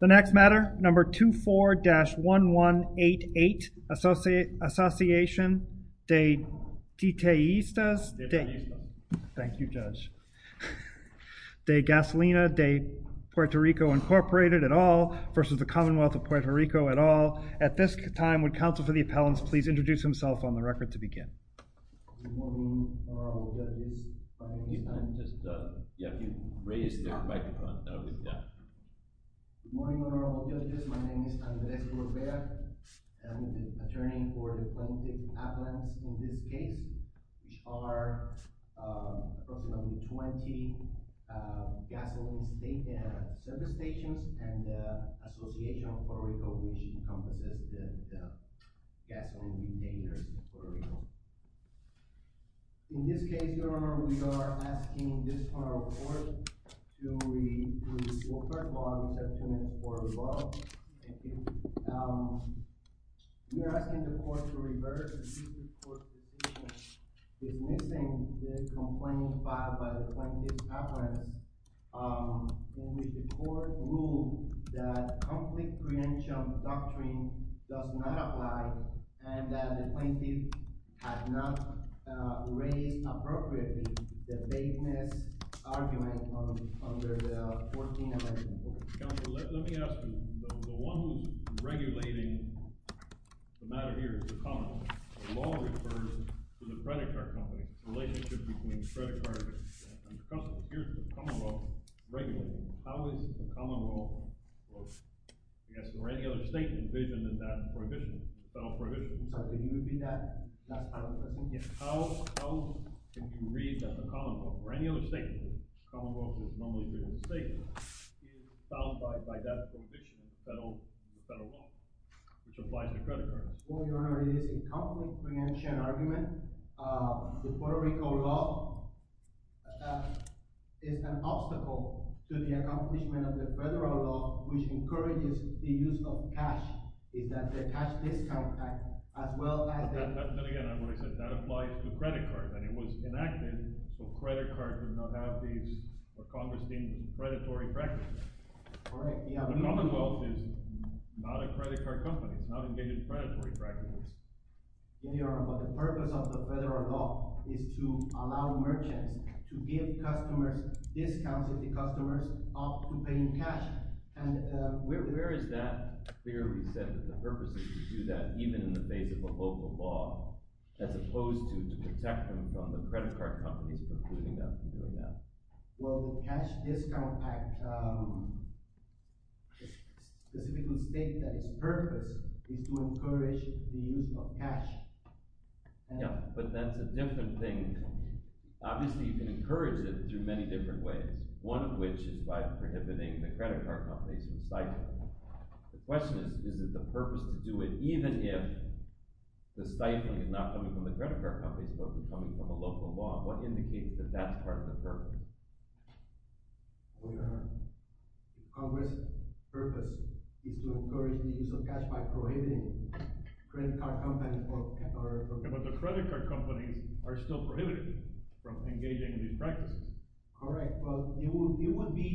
The next matter, number 24-1188, Asociacion de Detallistas de Gasolina de PR Inc. v. Commonwealth of Puerto Rico et al. At this time, would counsel for the appellants please introduce themselves on the record to begin. Good morning, honorable judges. Good morning, honorable judges. My name is Andres Rivera. I'm the attorney for the plaintiff appellants in this case. Which are approximately 20 gasoline service stations and the Association of Puerto Rico which encompasses the gasoline detailers in Puerto Rico. In this case, your honor, we are asking this court to read the third law, which I've tuned in for as well. We are asking the court to reverse the court's decision dismissing the complaint filed by the plaintiff's appellants. In which the court ruled that conflict credential doctrine does not apply and that the plaintiff had not raised appropriately the vagueness argument under the 14th Amendment. Counsel, let me ask you, the one who's regulating the matter here is the Commonwealth. The law refers to the credit card company. The relationship between the credit card and the customers. Here's the Commonwealth regulating. How is the Commonwealth, I guess, or any other state envisioned in that provision, the federal provision. I think it would be that last part of the question, yes. How can you read that the Commonwealth, or any other state in which the Commonwealth is normally regarded as a state, is bound by that provision in the federal law, which applies to credit cards? Well, your honor, it is a conflict credential argument. The Puerto Rico law is an obstacle to the accomplishment of the federal law, which encourages the use of cash. But again, I'm going to say that applies to credit cards, and it was enacted so credit cards would not have these Congress deemed predatory practices. The Commonwealth is not a credit card company. It's not engaged in predatory practices. But the purpose of the federal law is to allow merchants to give customers discounts if the customers opt to pay in cash. Where is that clearly set, that the purpose is to do that even in the face of a local law, as opposed to to protect them from the credit card companies precluding them from doing that? Well, the Cash Discount Act specifically states that its purpose is to encourage the use of cash. Yeah, but that's a different thing. Obviously, you can encourage it through many different ways, one of which is by prohibiting the credit card companies from stifling. The question is, is it the purpose to do it even if the stifling is not coming from the credit card companies but is coming from a local law? What indicates that that's part of the purpose? Your honor, Congress' purpose is to encourage the use of cash by prohibiting credit card companies from… But the credit card companies are still prohibited from engaging in these practices. Correct, but it would be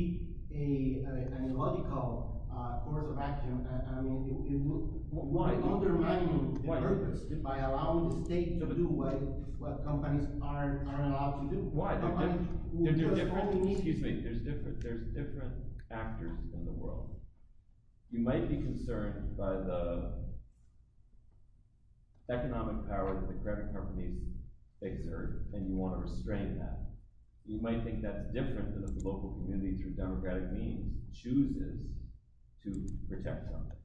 an illogical course of action. I mean, it would undermine the purpose by allowing the state to do what companies aren't allowed to do. Why? There's different actors in the world. You might be concerned by the economic power that the credit card companies exert, and you want to restrain that. You might think that's different than if the local community through democratic means chooses to protect something.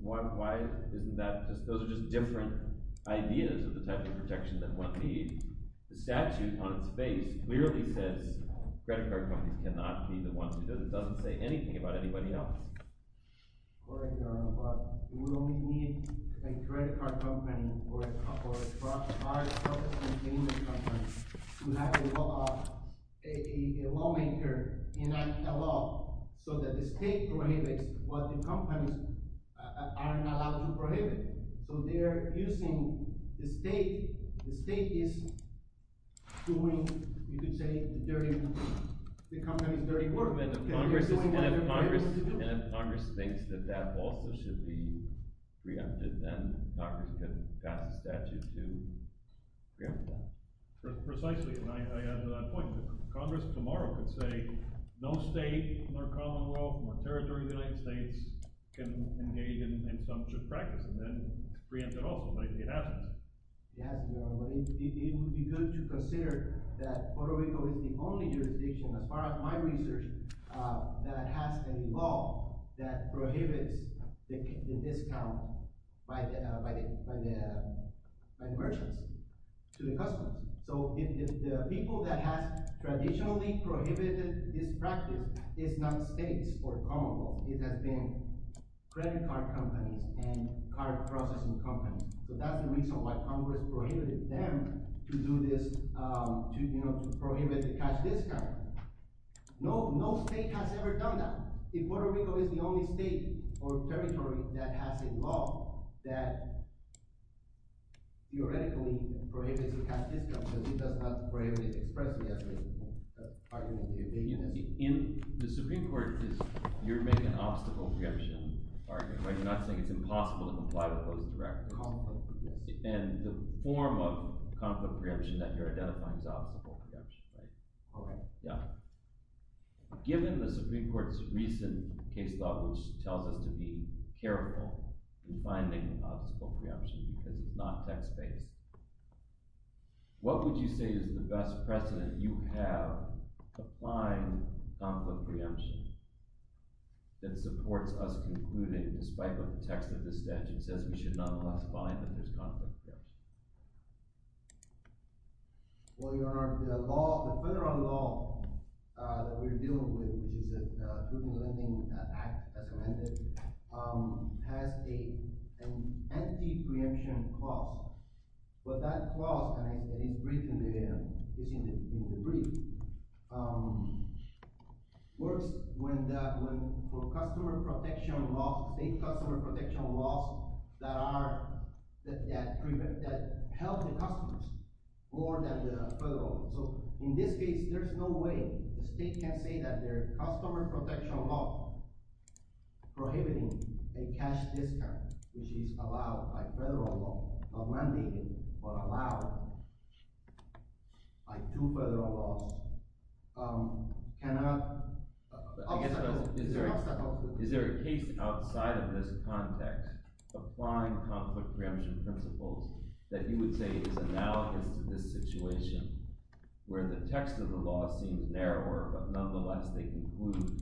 Why isn't that – those are just different ideas of the type of protection that one needs. The statute on its face clearly says credit card companies cannot be the ones who do this. It doesn't say anything about anybody else. Correct, Your Honor, but we only need a credit card company or a card service containment company to have a lawmaker enact a law so that the state prohibits what the companies aren't allowed to prohibit. So they're using – the state is doing, you could say, the dirty work. And if Congress thinks that that also should be preempted, then Congress could pass a statute to preempt that. Precisely, and I add to that point. Congress tomorrow could say no state nor commonwealth nor territory of the United States can engage in some such practice and then preempt it also, but it hasn't. It hasn't, Your Honor, but it would be good to consider that Puerto Rico is the only jurisdiction, as far as my research, that has a law that prohibits the discount by the merchants to the customers. So if the people that have traditionally prohibited this practice is not states or commonwealth, it has been credit card companies and card processing companies. So that's the reason why Congress prohibited them to do this, to prohibit the cash discount. No state has ever done that. If Puerto Rico is the only state or territory that has a law that theoretically prohibits the cash discount because it does not prohibit expressly as an argument. In the Supreme Court, you're making an obstacle preemption argument, right? You're not saying it's impossible to comply with those direct – Conflict, yes. And the form of conflict preemption that you're identifying is obstacle preemption, right? Okay. Yeah. Given the Supreme Court's recent case law, which tells us to be careful in finding an obstacle preemption because it's not text-based, what would you say is the best precedent you have to find conflict preemption that supports us concluding, despite what the text of the statute says, we should nonetheless find that there's conflict preemption? Well, Your Honor, the law – the federal law that we're dealing with, which is the Food and Lending Act, as amended, has an entity preemption clause. But that clause – and it's in the brief – works when the – for customer protection laws, state customer protection laws that are – that help the customers more than the federal. So in this case, there's no way the state can say that their customer protection law prohibiting a cash discount, which is allowed by federal law, not mandated but allowed by two federal laws, cannot – is an obstacle to it. Where the text of the law seems narrower, but nonetheless they conclude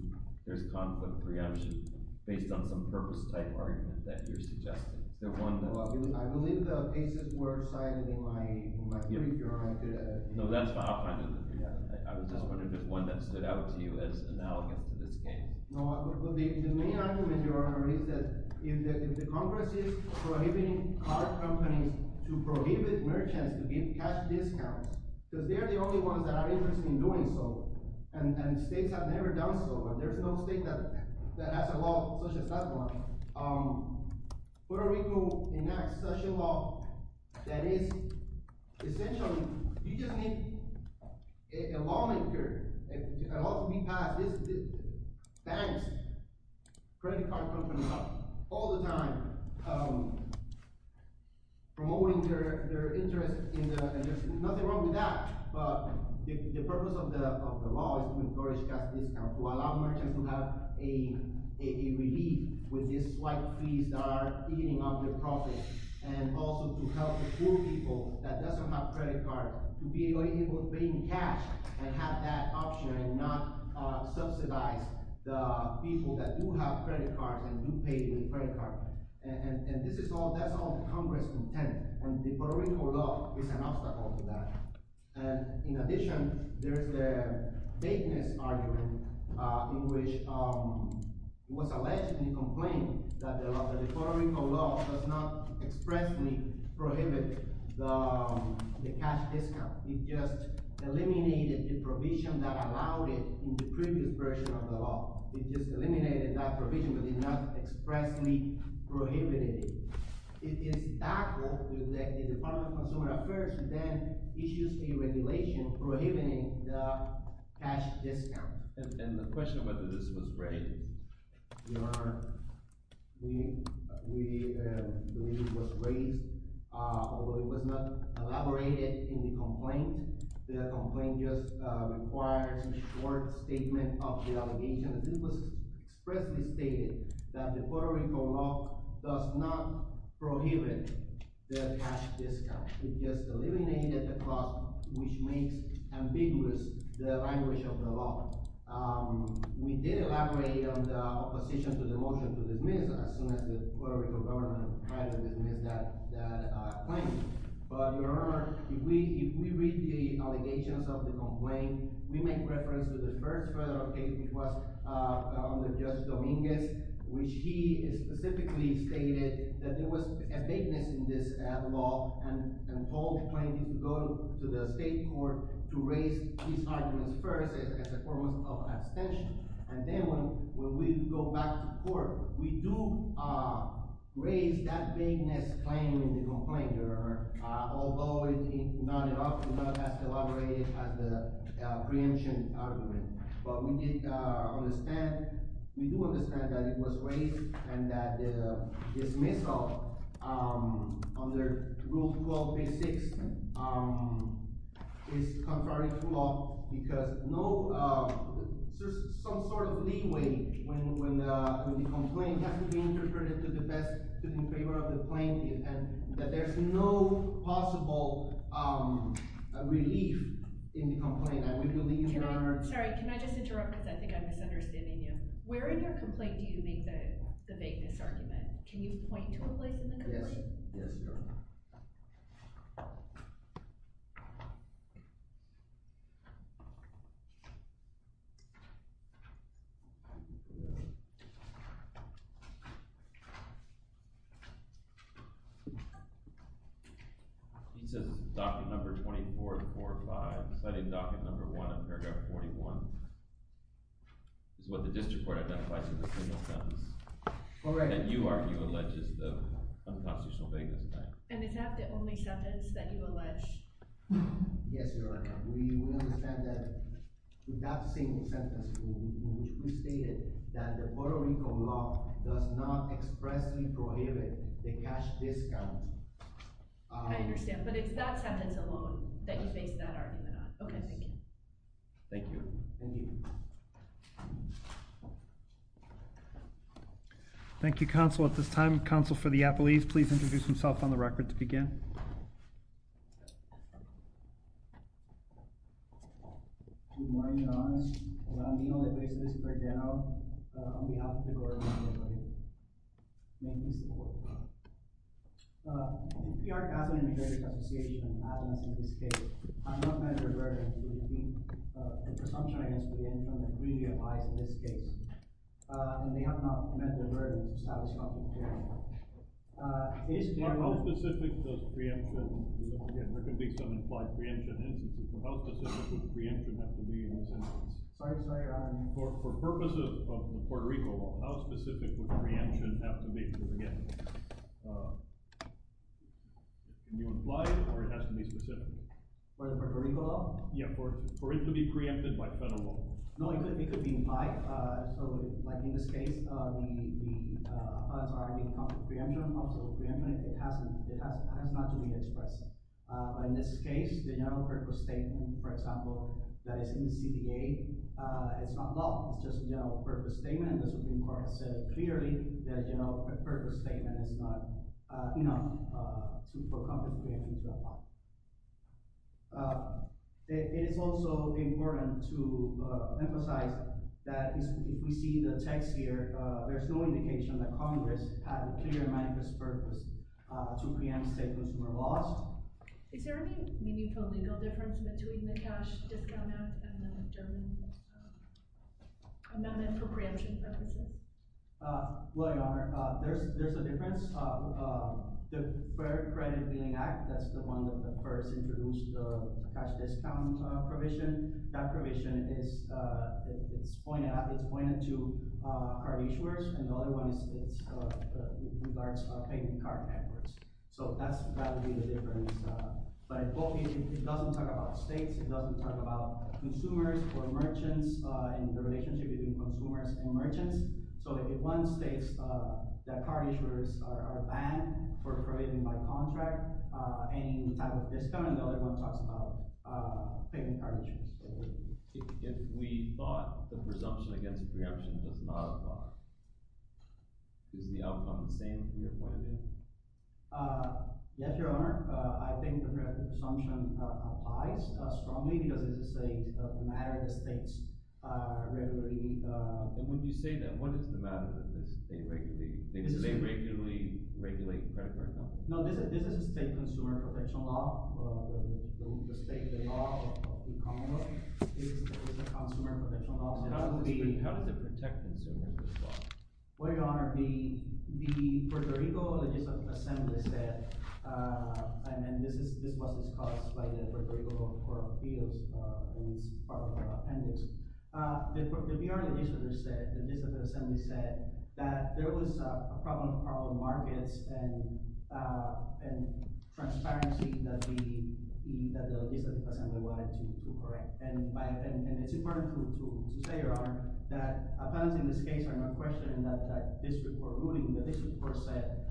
there's conflict preemption based on some purpose-type argument that you're suggesting. Is there one that – Well, I believe the cases were cited in my brief, Your Honor. No, that's fine. I'll find you the preemption. I was just wondering if there's one that stood out to you as analogous to this case. No, the main argument, Your Honor, is that if the Congress is prohibiting car companies to prohibit merchants to give cash discounts because they're the only ones that are interested in doing so, and states have never done so, but there's no state that has a law such as that one. Puerto Rico enacts such a law that is essentially – you just need a lawmaker, a law to be passed. Banks, credit card companies, all the time promoting their interest in the – and there's nothing wrong with that, but the purpose of the law is to encourage cash discounts, to allow merchants to have a relief with these slight fees that are eating up their profits, and also to help the poor people that doesn't have credit cards to be able to pay in cash and have that option and not subsidize the people that do have credit cards and do pay with credit cards. And this is all – that's all the Congress contends, and the Puerto Rico law is an obstacle to that. And in addition, there is the Bakeness argument in which it was alleged and complained that the Puerto Rico law does not expressly prohibit the cash discount. It just eliminated the provision that allowed it in the previous version of the law. It just eliminated that provision but did not expressly prohibit it. It is doubtful that the Department of Consumer Affairs then issues a regulation prohibiting the cash discount. And the question whether this was raised. Your Honor, we believe it was raised, although it was not elaborated in the complaint. The complaint just requires a short statement of the allegation. This was expressly stated that the Puerto Rico law does not prohibit the cash discount. It just eliminated the clause which makes ambiguous the language of the law. We did elaborate on the opposition to the motion to dismiss as soon as the Puerto Rico government tried to dismiss that claim. But, Your Honor, if we read the allegations of the complaint, we make reference to the first federal case, which was under Judge Dominguez, which he specifically stated that there was a bakeness in this law and told plaintiffs to go to the state court to raise these arguments first as a form of abstention. And then when we go back to court, we do raise that bakeness claim in the complaint, Your Honor, although it is not as elaborated as the preemption argument. But we do understand that it was raised and that the dismissal under Rule 12, Page 6 is contrary to law because there's some sort of leeway when the complaint has to be interpreted to the best of the plaintiff and that there's no possible relief in the complaint. Sorry, can I just interrupt because I think I'm misunderstanding you. Where in your complaint do you make the bakeness argument? Can you point to a place in the complaint? Yes, Your Honor. He says docket number 2445, citing docket number 1 of paragraph 41. It's what the district court identifies as a single sentence that you argue alleges the unconstitutional bakeness claim. And is that the only sentence that you allege? Yes, Your Honor. We understand that with that single sentence we stated that the Puerto Rico law does not expressly prohibit the cash discount. I understand, but it's that sentence alone that you face that argument on. Okay, thank you. Thank you. Thank you. Thank you, Counsel. At this time, Counsel for the Appellees, please introduce himself on the record to begin. Good morning, Your Honor. I'm Dino DePriest of this court down on behalf of the Court of Appeal. May I please have the floor? In the PRC Asylum and Heritage Association, as in this case, I'm not meant to be a burden. The presumption against me in front of the community applies in this case. And they have not meant the burden to establish confidentiality. How specific does preemption – again, there could be some implied preemption instances. How specific would preemption have to be in this instance? Sorry, Your Honor. For purposes of the Puerto Rico law, how specific would preemption have to be to begin with? Can you imply it or it has to be specific? For the Puerto Rico law? Yeah, for it to be preempted by federal law. No, it could be implied. So, like in this case, the appellate's already come to preemption. Also, preemption, it has not to be expressed. In this case, the general purpose statement, for example, that is in the CDA, it's not law. It's just a general purpose statement. And the Supreme Court has said clearly that a general purpose statement is not enough to put confidentiality into the law. It is also important to emphasize that if we see the text here, there's no indication that Congress had a clear manifest purpose to preempt state consumer laws. Is there any meaningful legal difference between the Cash Discount Act and the German amendment for preemption purposes? Well, Your Honor, there's a difference. The Fair Credit Billing Act, that's the one that first introduced the cash discount provision. That provision is – it's pointed out – it's pointed to card issuers, and the other one is – it regards payment card networks. So that would be the difference. But it doesn't talk about states. It doesn't talk about consumers or merchants in the relationship between consumers and merchants. So if one states that card issuers are banned from providing by contract any type of discount, and the other one talks about payment card issuers. If we thought the presumption against preemption does not apply, is the outcome the same from your point of view? Yes, Your Honor. I think the presumption applies strongly because it's a matter of states. And when you say that, what is the matter? Does the state regularly regulate credit card companies? No, this is a state consumer protection law. The state law of the Commonwealth is a consumer protection law. How does it protect consumers? Well, Your Honor, the Puerto Rico Legislative Assembly said – and this was discussed by the Puerto Rico Court of Appeals and its part of the appendix. The VR Legislative Assembly said that there was a problem with carbon markets and transparency that the Legislative Assembly wanted to correct. And it's important to say, Your Honor, that appellants in this case are not questioned in that district court ruling. The district court said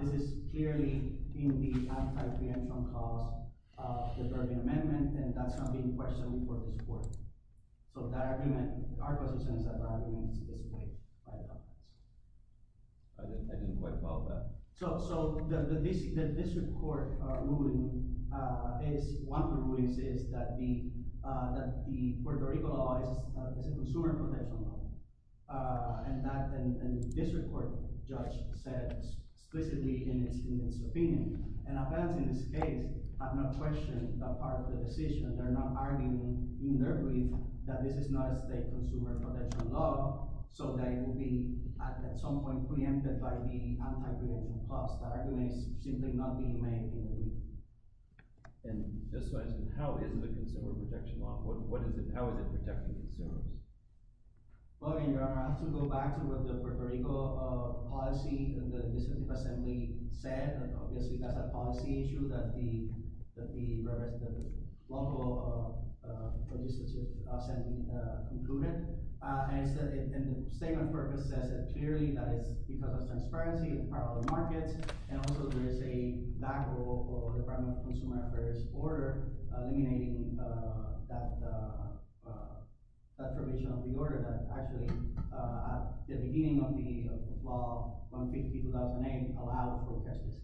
this is clearly in the anti-preemption clause of the Durbin Amendment, and that's not being questioned before this court. So that argument – our position is that the argument is displayed by the appellants. I didn't quite follow that. So the district court ruling is – one of the rulings is that the Puerto Rico law is a consumer protection law, and that the district court judge said explicitly in its opinion. And appellants in this case have not questioned that part of the decision. They're not arguing in their brief that this is not a state consumer protection law, so they will be at some point preempted by the anti-preemption clause. That argument is simply not being made in the brief. And just so I understand, how is the consumer protection law – what is it – how is it protecting consumers? Well, Your Honor, I have to go back to what the Puerto Rico policy and the legislative assembly said. Obviously, that's a policy issue that the local legislative assembly concluded. And the statement of purpose says that clearly that it's because of transparency in parallel markets. And also there is a lack of a Department of Consumer Affairs order eliminating that provision of the order that actually at the beginning of the law, 150-2008, allowed protestors.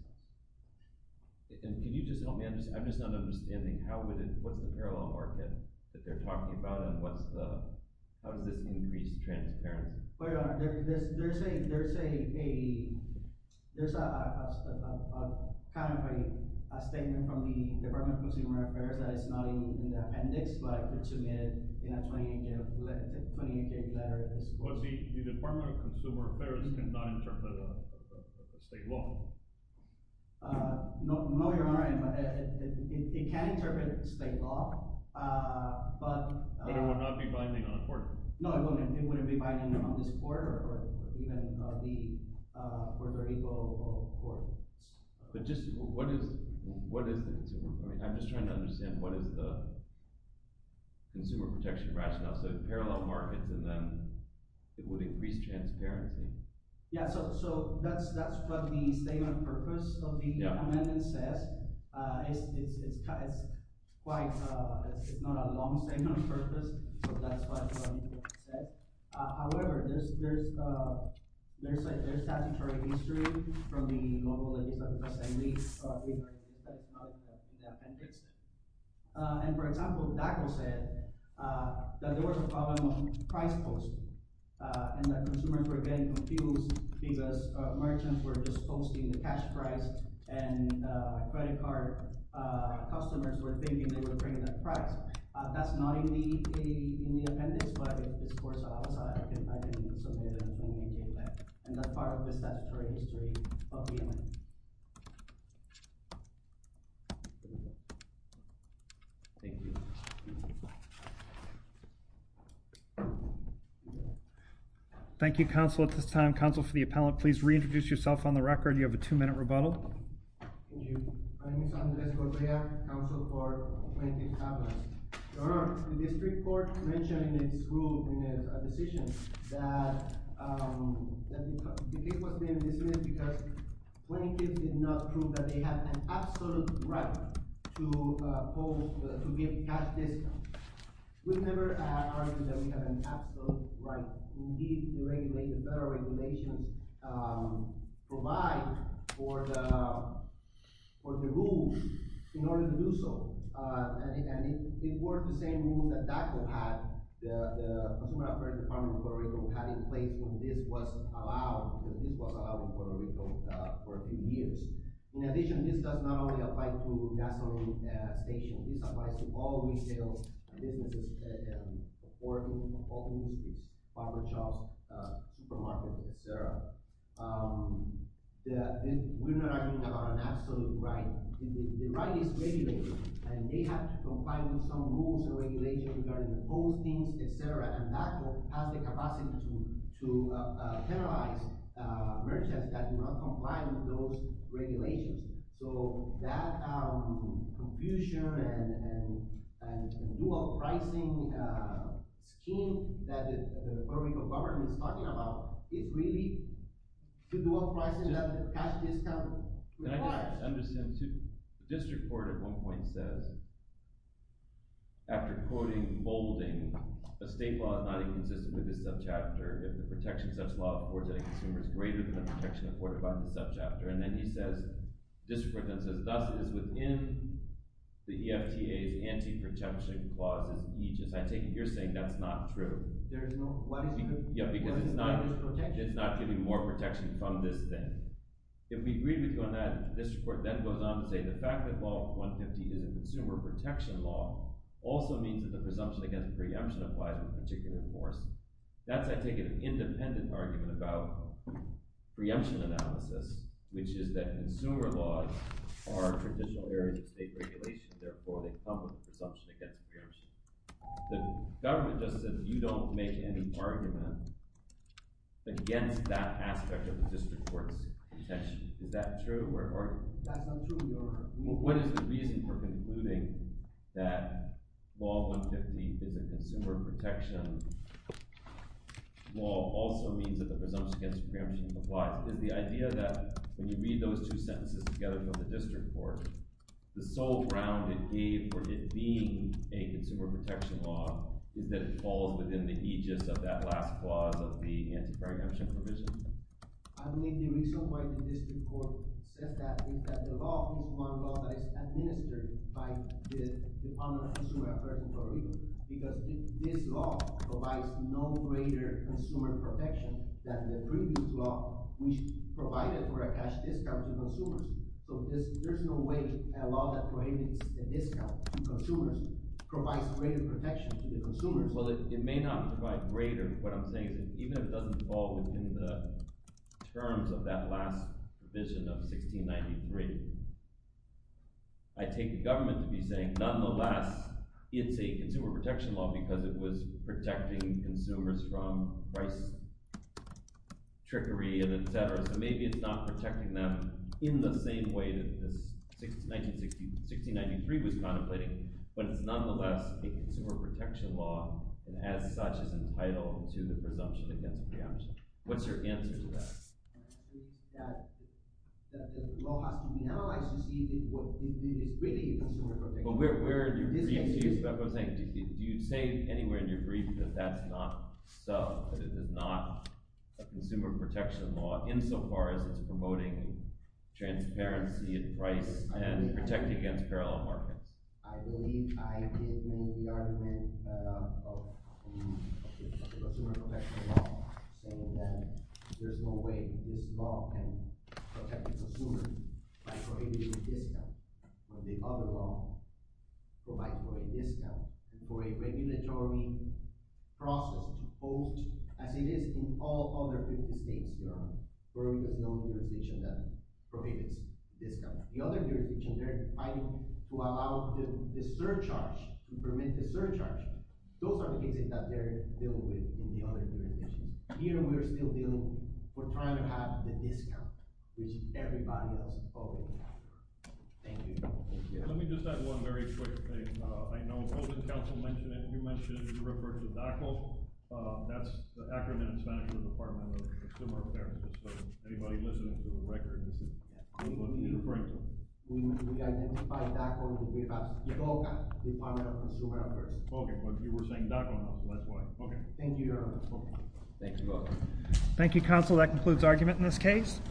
And can you just help me? I'm just not understanding. How would it – what's the parallel market that they're talking about, and what's the – how does this increase transparency? Well, Your Honor, there's a – there's a kind of a statement from the Department of Consumer Affairs that is not in the appendix, but it's submitted in a 20-page letter. Well, the Department of Consumer Affairs cannot interpret state law. No, Your Honor, it can interpret state law, but – But it would not be binding on a court. No, it wouldn't. It wouldn't be binding on this court or even the Puerto Rico court. But just what is – I'm just trying to understand what is the consumer protection rationale. So parallel markets, and then it would increase transparency. Yeah, so that's what the statement of purpose of the amendment says. It's quite – it's not a long statement of purpose, so that's what it said. However, there's statutory history from the global – And, for example, DACA said that there was a problem of price posting and that consumers were getting confused because merchants were just posting the cash price, and credit card customers were thinking they were paying that price. That's not in the appendix, but it's of course outside. I think it's submitted in a 20-page letter, and that's part of the statutory history of the amendment. Thank you. Thank you, counsel. At this time, counsel for the appellant, please reintroduce yourself on the record. You have a two-minute rebuttal. Thank you. My name is Andres Correa, counsel for plaintiff's appellant. Your Honor, the district court mentioned in its rule, in its decision, that the case was being dismissed because plaintiffs did not prove that they had an absolute right to give cash discounts. We've never argued that we have an absolute right. Indeed, the federal regulations provide for the rule in order to do so. And it worked the same rule that DACA had, the Consumer Affairs Department of Puerto Rico, had in place when this was allowed. This was allowed in Puerto Rico for a few years. In addition, this does not only apply to gasoline stations. This applies to all retail businesses, all industries, barber shops, supermarkets, et cetera. We're not arguing about an absolute right. The right is regulated, and they have to comply with some rules and regulations regarding the postings, et cetera. And DACA has the capacity to penalize merchants that do not comply with those regulations. So that confusion and dual-pricing scheme that the Puerto Rico government is talking about is really to dual-pricing that the cash discount requires. Can I just understand, too? The district court at one point says, after quoting Boulding, a state law is not inconsistent with this subchapter if the protection such law affords any consumers greater than the protection afforded by the subchapter. And then he says – the district court then says, thus, it is within the EFTA's anti-protection clauses each. And I take it you're saying that's not true. There is no – why isn't it? Yeah, because it's not – it's not giving more protection from this thing. If we agree with you on that, the district court then goes on to say the fact that Law 150 is a consumer protection law also means that the presumption against preemption applies with particular force. That's, I take it, an independent argument about preemption analysis, which is that consumer laws are traditional areas of state regulation. Therefore, they come with a presumption against preemption. The government just said you don't make any argument against that aspect of the district court's protection. Is that true? That's not true, Your Honor. What is the reason for concluding that Law 150 is a consumer protection law also means that the presumption against preemption applies? When you read those two sentences together from the district court, the sole ground it gave for it being a consumer protection law is that it falls within the aegis of that last clause of the anti-preemption provision. I believe the reason why the district court says that is that the law is one law that is administered by the Department of Consumer Affairs in Puerto Rico because this law provides no greater consumer protection than the previous law, which provided for a cash discount to consumers. So there's no way a law that prohibits a discount to consumers provides greater protection to the consumers. Well, it may not provide greater. What I'm saying is that even if it doesn't fall within the terms of that last provision of 1693, I take the government to be saying, nonetheless, it's a consumer protection law because it was protecting consumers from price trickery and etc. So maybe it's not protecting them in the same way that this 1693 was contemplating, but it's nonetheless a consumer protection law, and as such is entitled to the presumption against preemption. What's your answer to that? The law has to be analyzed to see if it is really a consumer protection law. Do you say anywhere in your brief that that's not so, that it is not a consumer protection law insofar as it's promoting transparency in price and protecting against parallel markets? I believe I did make the argument of the consumer protection law, saying that there's no way this law can protect the consumer by prohibiting a discount when the other law provides for a discount and for a regulatory process to post, as it is in all other 50 states, where there's no jurisdiction that prohibits discounts. The other jurisdictions are fighting to allow the surcharge, to permit the surcharge. Those are the cases that they're dealing with in the other jurisdictions. Here, we're still dealing, we're trying to have the discount, which everybody else is following. Thank you. Let me just add one very quick thing. I know Golden Council mentioned it, you mentioned you referred to DACO. That's the Acronym and Signature Department of Consumer Affairs. So, anybody listening to the record, this is what you're referring to. We identify DACO because we have the BOCA, Department of Consumer Affairs. Okay, but you were saying DACO, that's why. Thank you, Your Honor. Thank you. Thank you, Counsel. That concludes argument in this case.